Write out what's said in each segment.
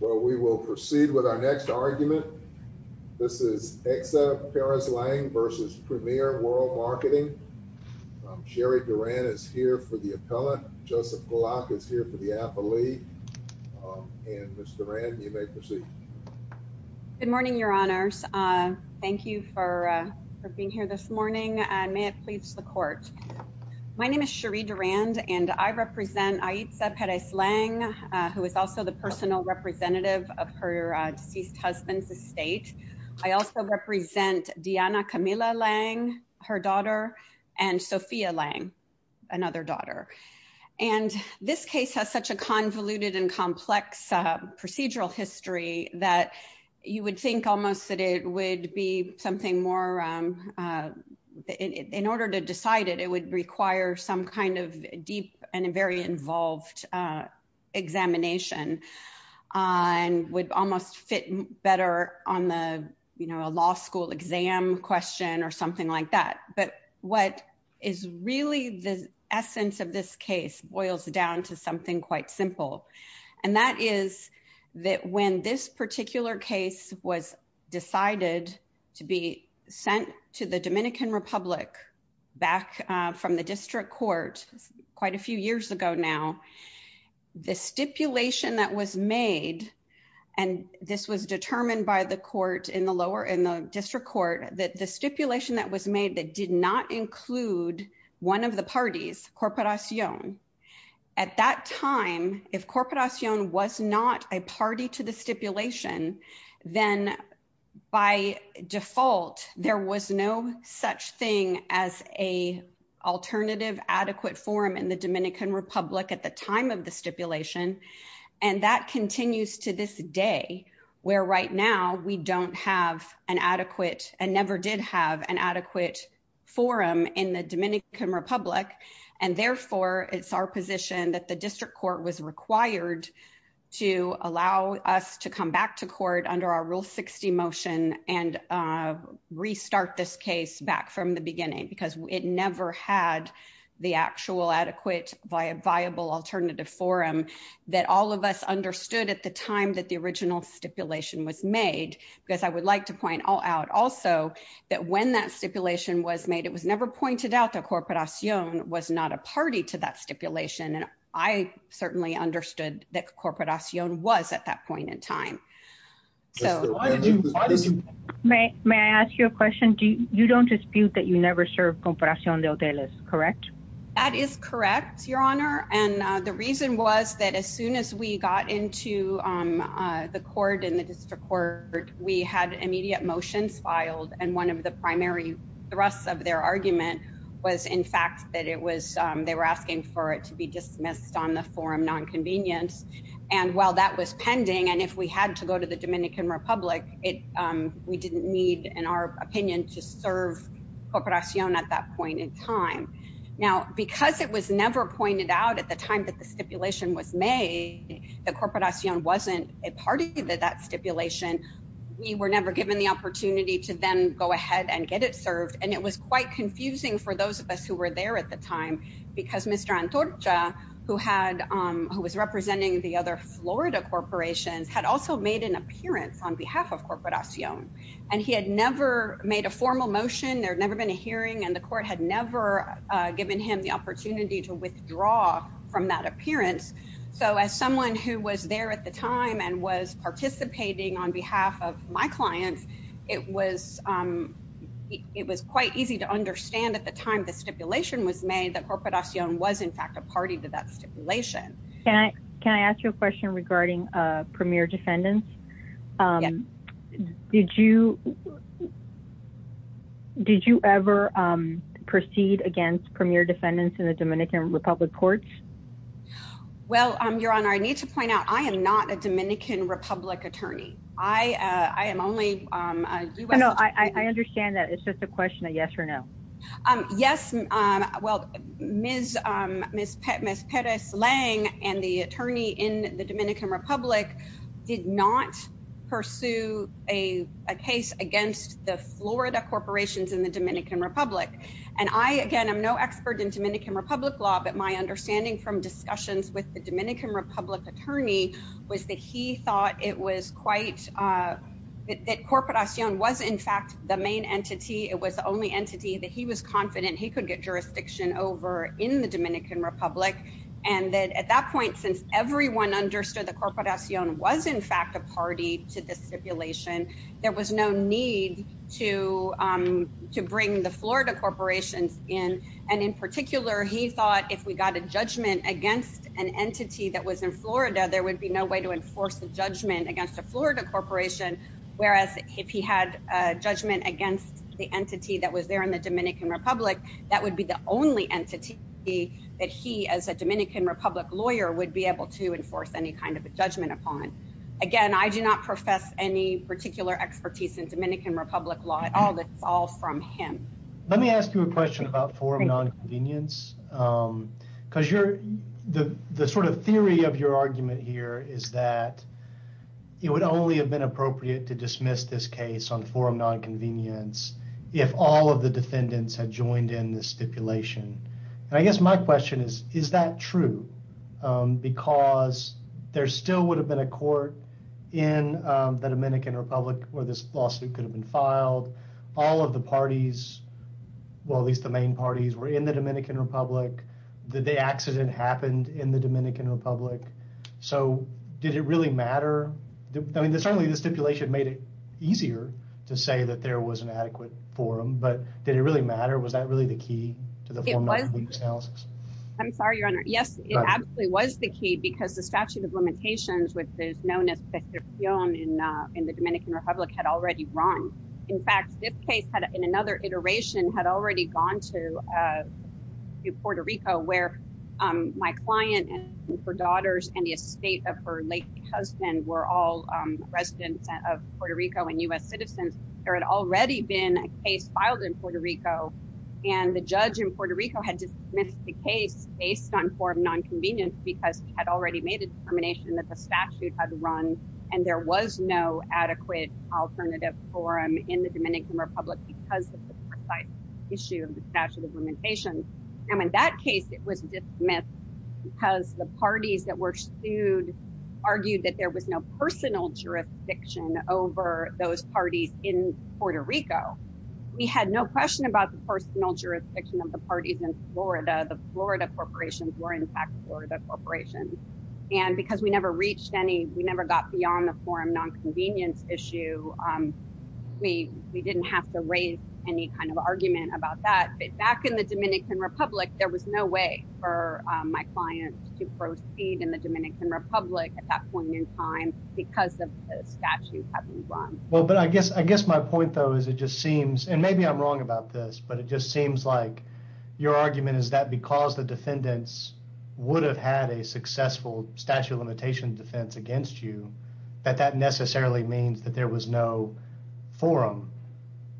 Well, we will proceed with our next argument. This is Aixa Perez-Lang v. Premier World Marketing. Sherry Duran is here for the appellant. Joseph Glock is here for the appellee. And, Ms. Duran, you may proceed. Good morning, Your Honors. Thank you for being here this morning, and may it please the Court. My name is Sherry Duran, and I represent Aixa Perez-Lang, who is also the personal representative of her deceased husband's estate. I also represent Diana Camila-Lang, her daughter, and Sophia-Lang, another daughter. And this case has such a convoluted and complex procedural history that you would think almost that it would be something more, in order to decide it, it would require some kind of deep and very involved examination and would almost fit better on the, you know, a law school exam question or something like that. But what is really the essence of this case boils down to something quite simple, and that is that when this particular case was decided to be sent to the Dominican Republic back from the district court quite a few years ago now, the stipulation that was made, and this was determined by the court in the lower, in the district court, that the stipulation that that did not include one of the parties, Corporación, at that time, if Corporación was not a party to the stipulation, then by default, there was no such thing as a alternative adequate forum in the Dominican Republic at the time of the stipulation. And that continues to this day, where right now, we don't have an adequate and never did have an adequate forum in the Dominican Republic. And therefore, it's our position that the district court was required to allow us to come back to court under our Rule 60 motion and restart this case back from the beginning because it never had the actual adequate via viable alternative forum that all of us understood at the time that the original stipulation was made. Because I would like to point out also that when that stipulation was made, it was never pointed out that Corporación was not a party to that stipulation, and I certainly understood that Corporación was at that point in time. May I ask you a question? You don't dispute that you never served Corporación de Hoteles, correct? That is correct, Your Honor. And the reason was that as soon as we got into the court and the district court, we had immediate motions filed. And one of the primary thrusts of their argument was, in fact, that they were asking for it to be dismissed on the forum non-convenience. And while that was pending, and if we had to go to the Dominican Republic, we didn't need, in our opinion, to serve Corporación at that point in time. Now, because it was never pointed out at the time that the stipulation was made, that Corporación wasn't a party to that stipulation, we were never given the opportunity to then go ahead and get it served. And it was quite confusing for those of us who were there at the time because Mr. Antorcha, who was representing the other Florida corporations, had also made an appearance on behalf of Corporación. And he had never made a formal motion. There had never been a hearing. And the court had never given him the opportunity to withdraw from that appearance. So as someone who was there at the time and was participating on behalf of my clients, it was quite easy to understand at the time the stipulation was made that Corporación was, in fact, a party to that stipulation. Can I ask you a question regarding premier defendants? Did you ever proceed against premier defendants in the Dominican Republic courts? Well, Your Honor, I need to point out I am not a Dominican Republic attorney. I am only a U.S. attorney. I understand that. It's just a question of yes or no. Yes. Well, Ms. Perez-Lang and the attorney in the Dominican Republic did not pursue a case against the Florida corporations in the Dominican Republic. And I, again, am no expert in Dominican Republic law. But my understanding from discussions with the Dominican Republic attorney was that he thought it was quite – that Corporación was, in fact, the main entity. It was the only entity that he was confident he could get jurisdiction over in the Dominican Republic. And that at that point, since everyone understood that Corporación was, in fact, a party to the stipulation, there was no need to bring the Florida corporations in. And in particular, he thought if we got a judgment against an entity that was in Florida, there would be no way to enforce a judgment against a Florida corporation, whereas if he had a judgment against the entity that was there in the Dominican Republic, that would be the only entity that he, as a Dominican Republic lawyer, would be able to enforce any kind of a judgment upon. Again, I do not profess any particular expertise in Dominican Republic law. It's all from him. Let me ask you a question about form non-convenience, because the sort of theory of your argument here is that it would only have been appropriate to dismiss this case on form non-convenience if all of the defendants had joined in the stipulation. And I guess my question is, is that true? Because there still would have been a court in the Dominican Republic where this lawsuit could have been filed. All of the parties, well, at least the main parties, were in the Dominican Republic. The accident happened in the Dominican Republic. So did it really matter? I mean, certainly the stipulation made it easier to say that there was an adequate forum, but did it really matter? Was that really the key to the form non-convenience analysis? I'm sorry, Your Honor. Yes, it absolutely was the key, because the statute of limitations, which is known as prestación in the Dominican Republic, had already run. In fact, this case, in another iteration, had already gone to Puerto Rico, where my client and her daughters and the estate of her late husband were all residents of Puerto Rico and U.S. citizens. There had already been a case filed in Puerto Rico, and the judge in Puerto Rico had dismissed the case based on form non-convenience because he had already made the determination that the statute had run and there was no adequate alternative forum in the Dominican Republic because of the precise issue of the statute of limitations. And in that case, it was dismissed because the parties that were sued argued that there was no personal jurisdiction over those parties in Puerto Rico. We had no question about the personal jurisdiction of parties in Florida. The Florida corporations were in fact Florida corporations. And because we never reached any, we never got beyond the form non-convenience issue, we didn't have to raise any kind of argument about that. But back in the Dominican Republic, there was no way for my client to proceed in the Dominican Republic at that point in time because of the statute having run. Well, but I guess my point, though, is it just seems, and maybe I'm wrong about this, but it just seems like your argument is that because the defendants would have had a successful statute of limitation defense against you, that that necessarily means that there was no forum.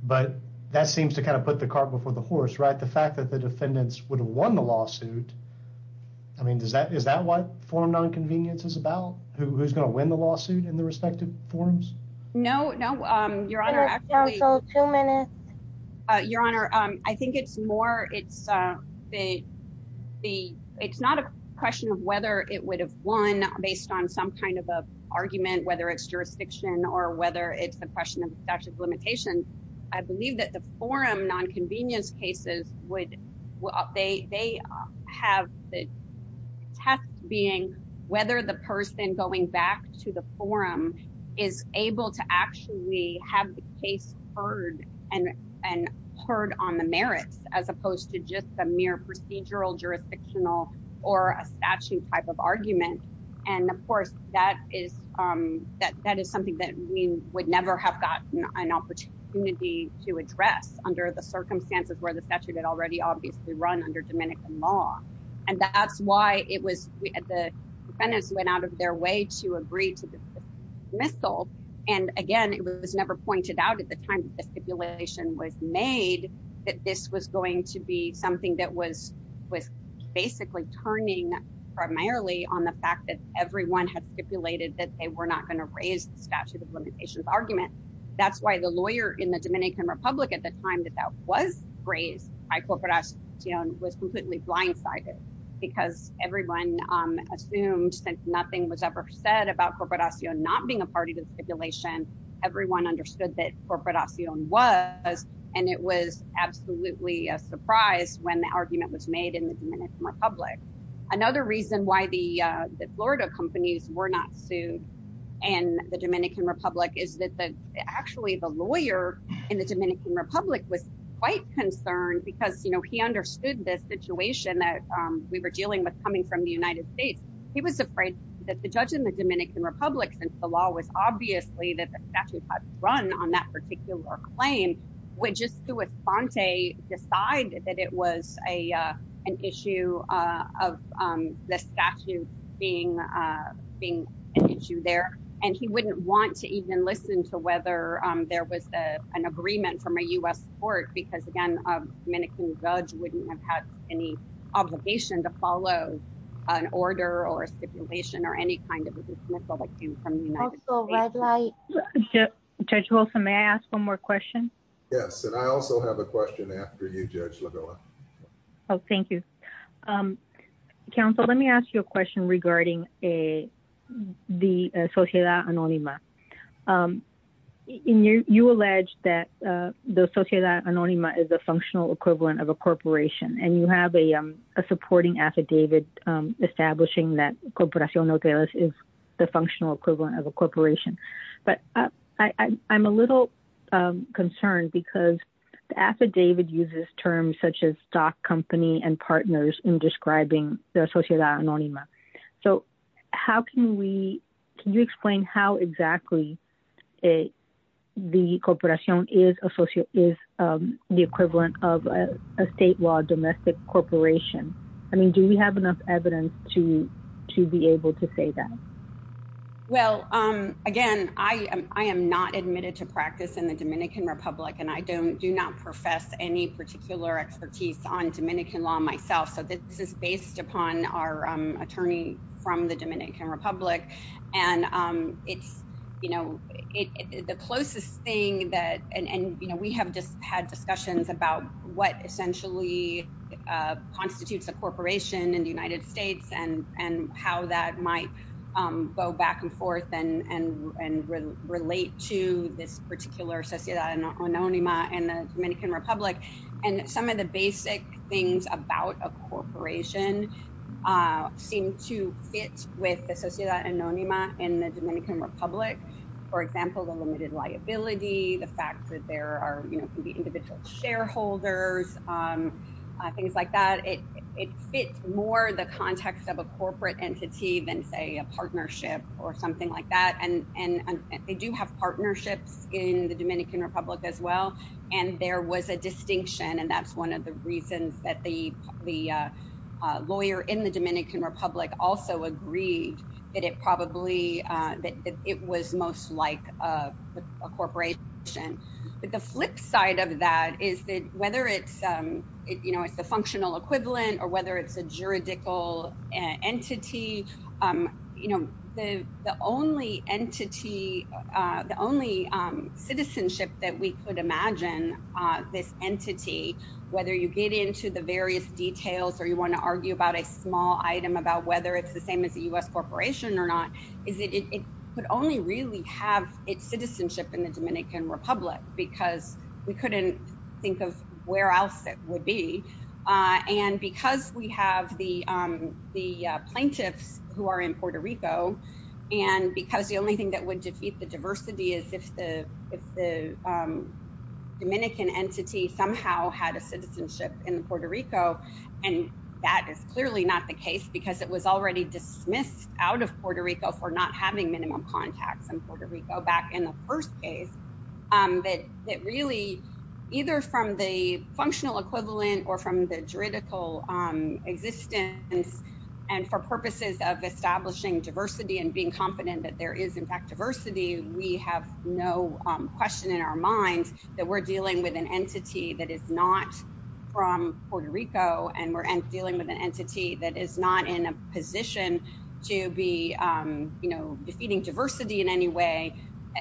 But that seems to kind of put the cart before the horse, right? The fact that the defendants would have won the lawsuit, I mean, is that what form non-convenience is about? Who's going to win the lawsuit in the respective forms? No, no, your honor. Your honor, I think it's more, it's the, it's not a question of whether it would have won based on some kind of argument, whether it's jurisdiction or whether it's the question of statute of limitation. I believe that the forum non-convenience cases would, they have the test being whether the person going back to the forum is able to actually have the case heard and heard on the merits as opposed to just the mere procedural jurisdictional or a statute type of argument. And of course, that is, that is something that we would never have gotten an opportunity to address under the circumstances where the statute had already obviously run under Dominican law. And that's why it was, the defendants went out of their way to agree to the dismissal. And again, it was never pointed out at the time that the stipulation was made that this was going to be something that was, was basically turning primarily on the fact that everyone had stipulated that they were not going to raise the statute of limitations argument. That's why the lawyer in the Dominican Republic at the time that that was raised by Corporacion was completely blindsided because everyone assumed since nothing was ever said about Corporacion not being a party to the stipulation, everyone understood that Corporacion was, and it was absolutely a surprise when the argument was made in the Dominican Republic. Another reason why the Florida companies were not sued in the Dominican Republic is that the, actually the lawyer in the Dominican Republic was quite concerned because, you know, he understood this situation that we were dealing with coming from the United States. He was afraid that the judge in the Dominican Republic, since the law was obviously that the statute had run on that particular claim, would just do a sponte, decide that it was a, an issue of the statute being, being an issue there. And he wouldn't want to even listen to whether there was an agreement from a U.S. court, because again, Dominican judge wouldn't have had any obligation to follow an order or a stipulation or any kind of dismissal that came from the United States. Judge Holson, may I ask one more question? Yes, and I also have a question after you, Judge Labilla. Oh, thank you. Counsel, let me ask you a question regarding the Sociedad Anonima. And you, you allege that the Sociedad Anonima is a functional equivalent of a corporation, and you have a, a supporting affidavit establishing that Corporación Nogales is the functional equivalent of a corporation. But I, I'm a little concerned because the affidavit uses terms such as stock company and partners in describing the Sociedad Anonima. So how can we, can you explain how exactly the Corporación is associated, is the equivalent of a state law domestic corporation? I mean, do we have enough evidence to, to be able to say that? Well, again, I am, I am not admitted to practice in the Dominican Republic, and I don't, do not profess any particular expertise on Dominican law myself. So this is based upon our attorney from the Dominican Republic. And it's, you know, the closest thing that, and, you know, we have just had discussions about what essentially constitutes a corporation in the United States and, and how that might go back and forth and, and, and relate to this particular Sociedad Anonima in the Dominican Republic. And some of the basic things about a corporation seem to fit with the Sociedad Anonima in the Dominican Republic. For example, the limited liability, the fact that there are, you know, can be individual shareholders, things like that. It, it fits more the context of a corporate entity than say a partnership or something like that. And, and they do have partnerships in the Dominican Republic as well. And there was a distinction. And that's one of the reasons that the, the lawyer in the Dominican Republic also agreed that it probably, that it was most like a corporation. But the flip side of that is that whether it's, you know, it's the functional equivalent, or whether it's a juridical entity, you know, the, the only entity, the only citizenship that we could imagine this entity, whether you get into the various details, or you want to argue about a small item about whether it's the same as a US corporation or not, is that it could only really have its citizenship in the Dominican Republic, because we couldn't think of where else it would be. And because we have the plaintiffs who are in Puerto Rico. And because the only thing that would defeat the diversity is if the if the Dominican entity somehow had a citizenship in Puerto Rico. And that is clearly not the case, because it was already dismissed out of Puerto Rico for not having minimum contacts in Puerto Rico back in the first case, that that really, either from the functional equivalent, or from the juridical existence. And for purposes of establishing diversity and being confident that there is in fact diversity, we have no question in our minds that we're dealing with an entity that is not from Puerto Rico, and we're dealing with an entity that is not in a position to be, you know, defeating diversity in any way.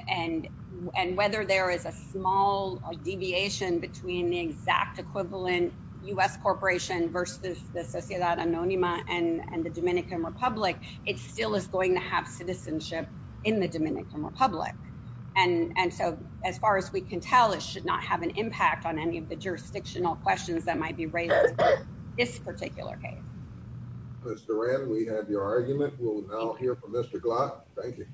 And, and whether there is a small deviation between the exact equivalent US corporation versus the Sociedad Anonima and the Dominican Republic, it still is going to have citizenship in the Dominican Republic. And so as far as we can tell, it should not have an impact on any of the jurisdictional questions that might be raised this particular case. Mr. Wren, we had your argument. We'll now hear from Mr. Glock. Thank you.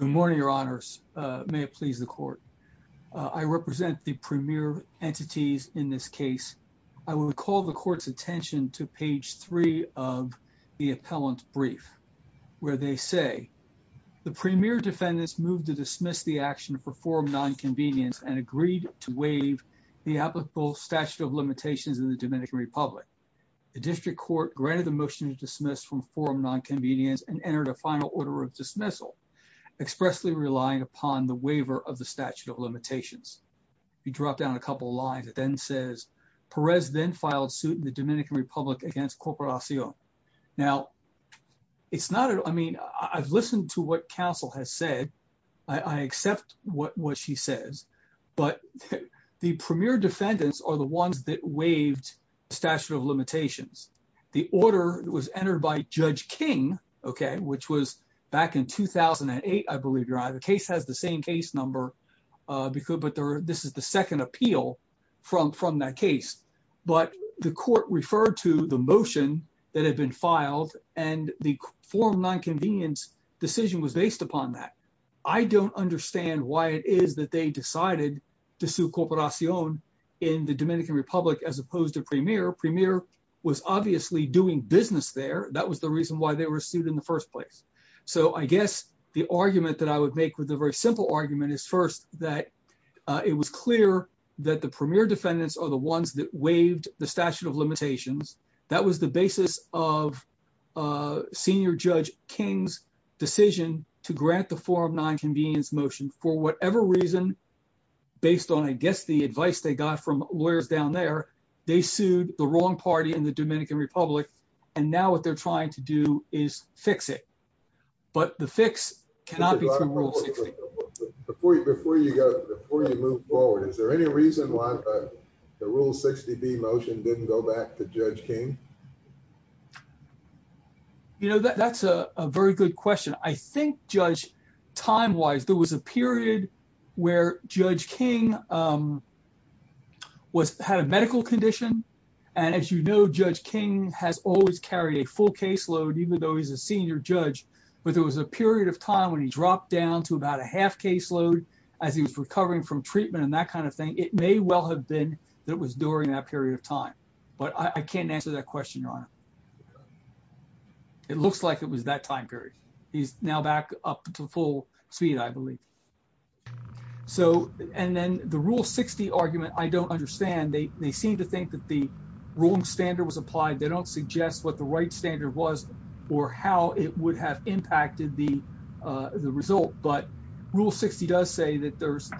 Good morning, Your Honors. May it please the Court. I represent the premier entities in this case. I will call the Court's attention to page three of the appellant brief, where they say, the premier defendants moved to dismiss the action for forum non-convenience and agreed to waive the applicable statute of limitations in the Dominican Republic. The district court granted the motion to dismiss from forum non-convenience and entered a final order of dismissal, expressly relying upon the waiver of the statute of limitations. If you drop down a couple of lines, it then says, Perez then filed suit in the Dominican Republic against Corporación. Now, it's not, I mean, I've listened to what counsel has said. I accept what she says, but the premier defendants are the ones that waived statute of limitations. The order was entered by Judge King, okay, which was back in 2008, I believe, Your Honor. The case has the same case number, but this is the second appeal from that case, but the court referred to the motion that had been filed and the forum non-convenience decision was based upon that. I don't understand why it is that they decided to sue Corporación in the Dominican Republic as opposed to premier. Premier was obviously doing business there. That was the reason why they were sued in the first place. So I guess the argument that I would make with a very simple argument is first that it was clear that the premier defendants are the ones that waived the statute of limitations. That was the basis of Senior Judge King's decision to grant the forum non-convenience motion for whatever reason, based on, I guess, the advice they got from lawyers down there. They sued the wrong party in the Dominican Republic and now what they're trying to do is fix it, but the fix cannot be through Rule 60. Before you move forward, is there any reason why the Rule 60b motion didn't go back to Judge King? You know, that's a very good question. I think, Judge, time-wise there was a period where Judge King had a medical condition, and as you know, Judge King has always carried a full caseload, even though he's a senior judge, but there was a period of time when he dropped down to about a that was during that period of time. But I can't answer that question, Your Honor. It looks like it was that time period. He's now back up to full speed, I believe. So, and then the Rule 60 argument, I don't understand. They seem to think that the wrong standard was applied. They don't suggest what the right standard was or how it would have impacted the result, but Rule 60 does say that there's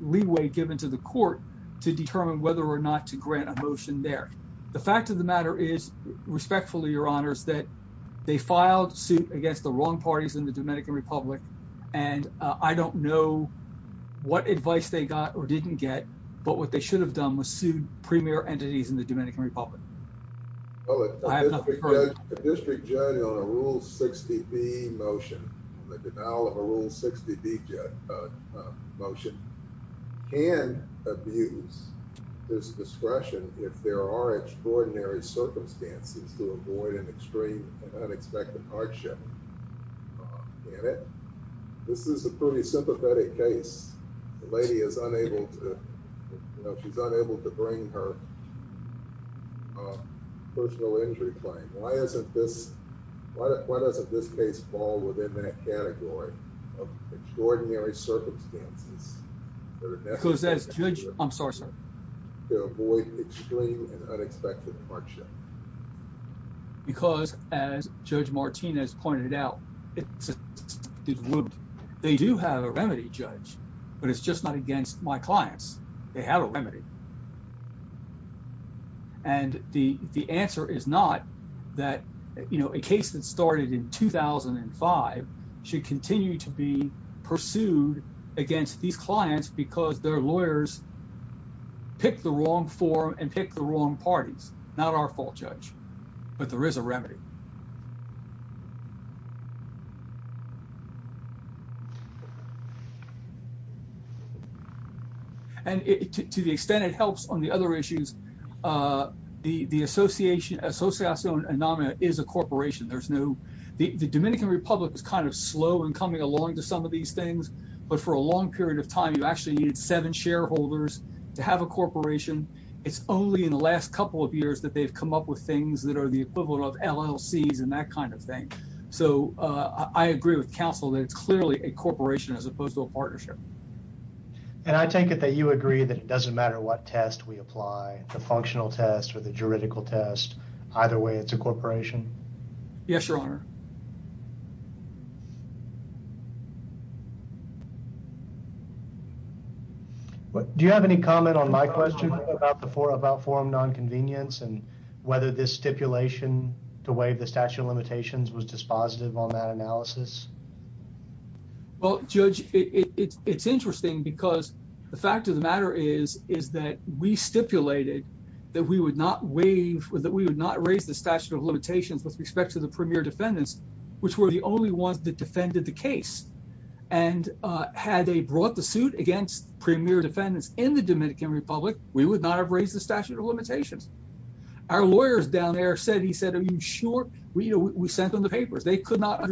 leeway given to the court to determine whether or not to grant a motion there. The fact of the matter is, respectfully, Your Honor, is that they filed suit against the wrong parties in the Dominican Republic, and I don't know what advice they got or didn't get, but what they should have done was sued premier entities in the Dominican Republic. I have nothing further. A district judge on a Rule 60b motion, on the denial of a Rule 60b motion, can abuse this discretion if there are extraordinary circumstances to avoid an extreme and unexpected hardship in it. This is a pretty sympathetic case. The lady is unable to, you know, she's unable to bring her personal injury claim. Why isn't this, why doesn't this case fall within that category of extraordinary circumstances? Because as judge, I'm sorry, sir. To avoid extreme and unexpected hardship. Because as Judge Martinez pointed out, they do have a remedy, Judge, but it's just not against my clients. They have a remedy. And the answer is not that, you know, a case that started in 2005 should continue to be pursued against these clients because their lawyers pick the wrong forum and pick the wrong parties. Not our fault, Judge, but there is a remedy. And to the extent it helps on the other issues, the association is a corporation. There's no, the Dominican Republic is kind of slow in coming along to some of these things, but for a long period of time, you actually needed seven shareholders to have a corporation. It's only in the last couple of years that they've come up with things that are the equivalent of LLCs and that kind of thing. So I agree with counsel that it's clearly a corporation as opposed to a partnership. And I take it that you agree that it doesn't matter what test we apply, the functional test or the juridical test, either way, it's a corporation. Yes, Your Honor. Do you have any comment on my question about the forum about forum nonconvenience and whether this stipulation to waive the statute of limitations was dispositive on that analysis? Well, Judge, it's interesting because the fact of the matter is, is that we stipulated that we would not raise the statute of limitations with respect to the premier defendants, which were the only ones that defended the case. And had they brought the suit against premier defendants in the Dominican Republic, we would not have raised the statute of limitations. Our lawyers down there said, he said, are you sure? We sent them the papers. They could not have.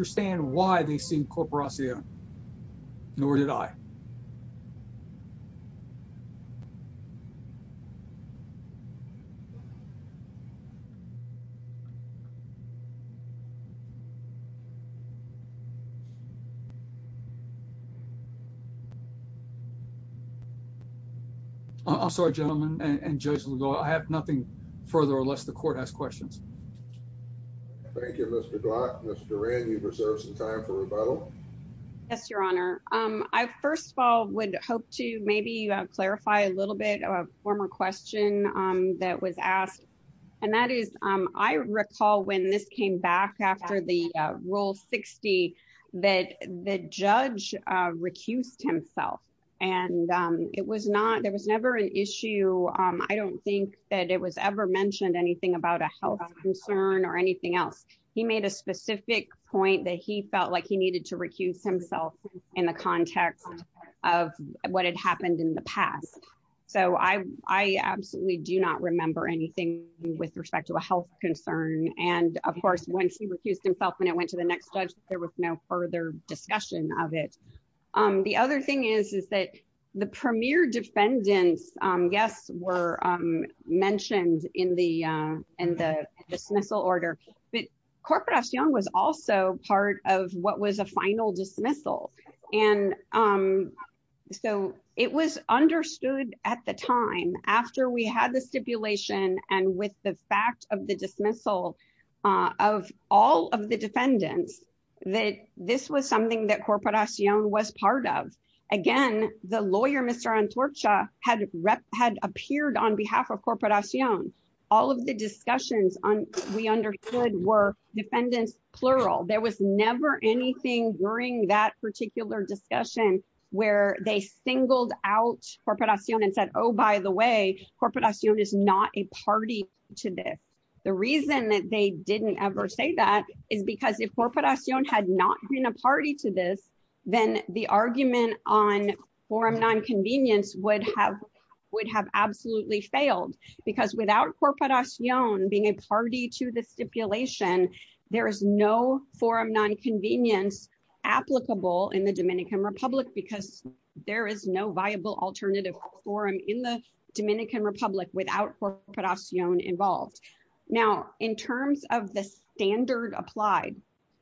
I'm sorry, gentlemen, and Judge, I have nothing further unless the court has questions. Thank you, Mr. Glock. Mr. Rand, you reserve some time for rebuttal. Yes, Your Honor. I, first of all, would hope to maybe clarify a little bit of a question that was asked. And that is, I recall when this came back after the rule 60, that the judge recused himself. And it was not, there was never an issue. I don't think that it was ever mentioned anything about a health concern or anything else. He made a specific point that he felt like he needed to recuse himself in the context of what had happened in the past. So I absolutely do not remember anything with respect to a health concern. And of course, when he recused himself and it went to the next judge, there was no further discussion of it. The other thing is, is that the premier defendants, yes, were mentioned in the dismissal order. But was a final dismissal. And so it was understood at the time, after we had the stipulation, and with the fact of the dismissal of all of the defendants, that this was something that Corporación was part of. Again, the lawyer, Mr. Antorcha, had appeared on behalf of Corporación. All of the discussions we understood were defendants, plural. There was never anything during that particular discussion where they singled out Corporación and said, oh, by the way, Corporación is not a party to this. The reason that they didn't ever say that is because if Corporación had not been a party to this, then the argument on forum nonconvenience would have absolutely failed. Because without Corporación being a party to the stipulation, there is no forum nonconvenience applicable in the Dominican Republic because there is no viable alternative forum in the Dominican Republic without Corporación involved. Now, in terms of the standard applied,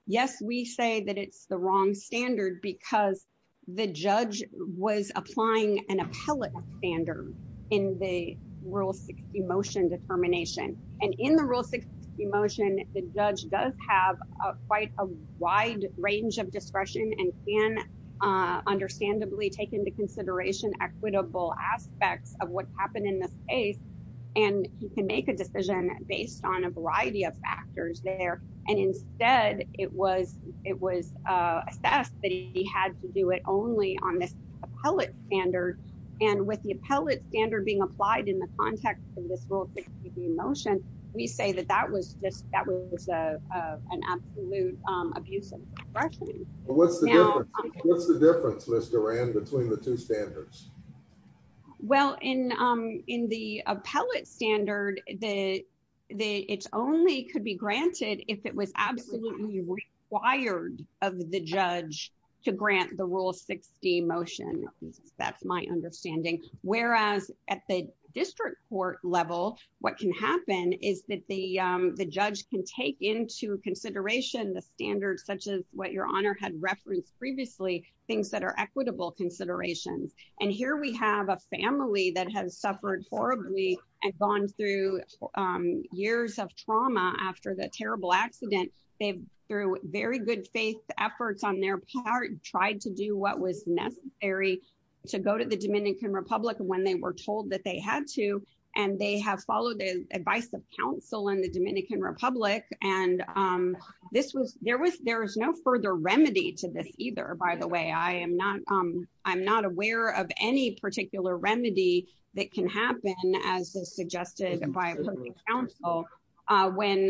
yes, we say that it's the wrong standard because the judge was applying an Rule 60 motion determination. And in the Rule 60 motion, the judge does have quite a wide range of discretion and can understandably take into consideration equitable aspects of what happened in this case. And he can make a decision based on a variety of factors there. And instead, it was assessed that he had to do it only on this appellate standard. And with the appellate standard being applied in the context of this Rule 60 motion, we say that that was an absolute abuse of discretion. What's the difference, Ms. Duran, between the two standards? Well, in the appellate standard, it only could be granted if it was absolutely required of the district court level. What can happen is that the judge can take into consideration the standards such as what Your Honor had referenced previously, things that are equitable considerations. And here we have a family that has suffered horribly and gone through years of trauma after the terrible accident. They've, through very good faith efforts on their part, tried to do what was necessary to go to the Dominican Republic when they were told that they had to. And they have followed the advice of counsel in the Dominican Republic. And there is no further remedy to this either, by the way. I'm not aware of any particular remedy that can happen as suggested by public counsel when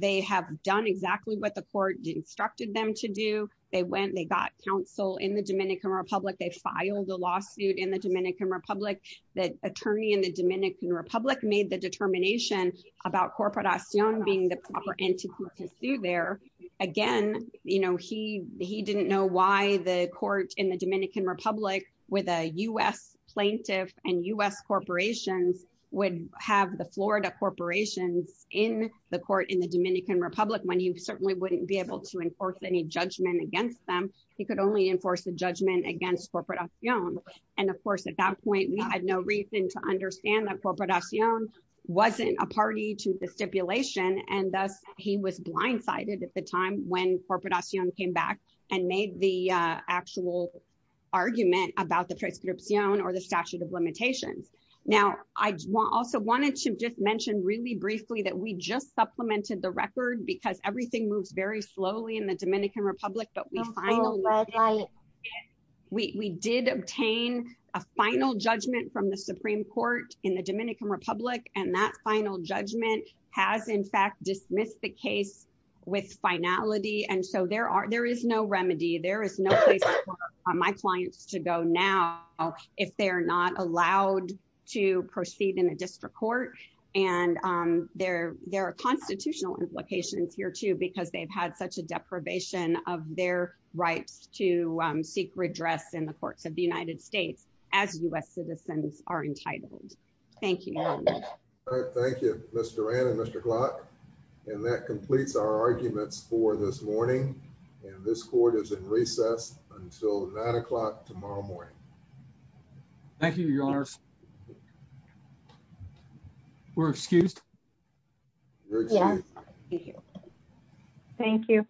they have done exactly what the court instructed them to do. They went, they got counsel in the Dominican Republic. They filed a lawsuit in the Dominican Republic. The attorney in the Dominican Republic made the determination about Corporación being the proper entity to sue there. Again, you know, he didn't know why the court in the Dominican Republic with a U.S. plaintiff and U.S. corporations would have the Florida corporations in the court in the Dominican Republic when he certainly wouldn't be able to enforce any judgment against them. He could only enforce the judgment against Corporación. And of course, at that point, we had no reason to understand that Corporación wasn't a party to the stipulation. And thus, he was blindsided at the time when Corporación came back and made the actual argument about the prescripción or the statute of limitations. Now, I also wanted to just mention really briefly that we just supplemented the record because everything moves very slowly in the Dominican Republic, but we finally, we did obtain a final judgment from the Supreme Court in the Dominican Republic. And that final judgment has in fact dismissed the case with finality. And so there are, there is no remedy. There is no place for my clients to go now if they're not allowed to proceed in a district court. And there are constitutional implications here too, because they've had such a deprivation of their rights to seek redress in the courts of the United States as U.S. citizens are entitled. Thank you. All right. Thank you, Mr. Ran and Mr. Glock. And that completes our arguments for this morning. And this court is in recess until nine o'clock tomorrow morning. Thank you, Your Honors. We're excused? Yes. Thank you.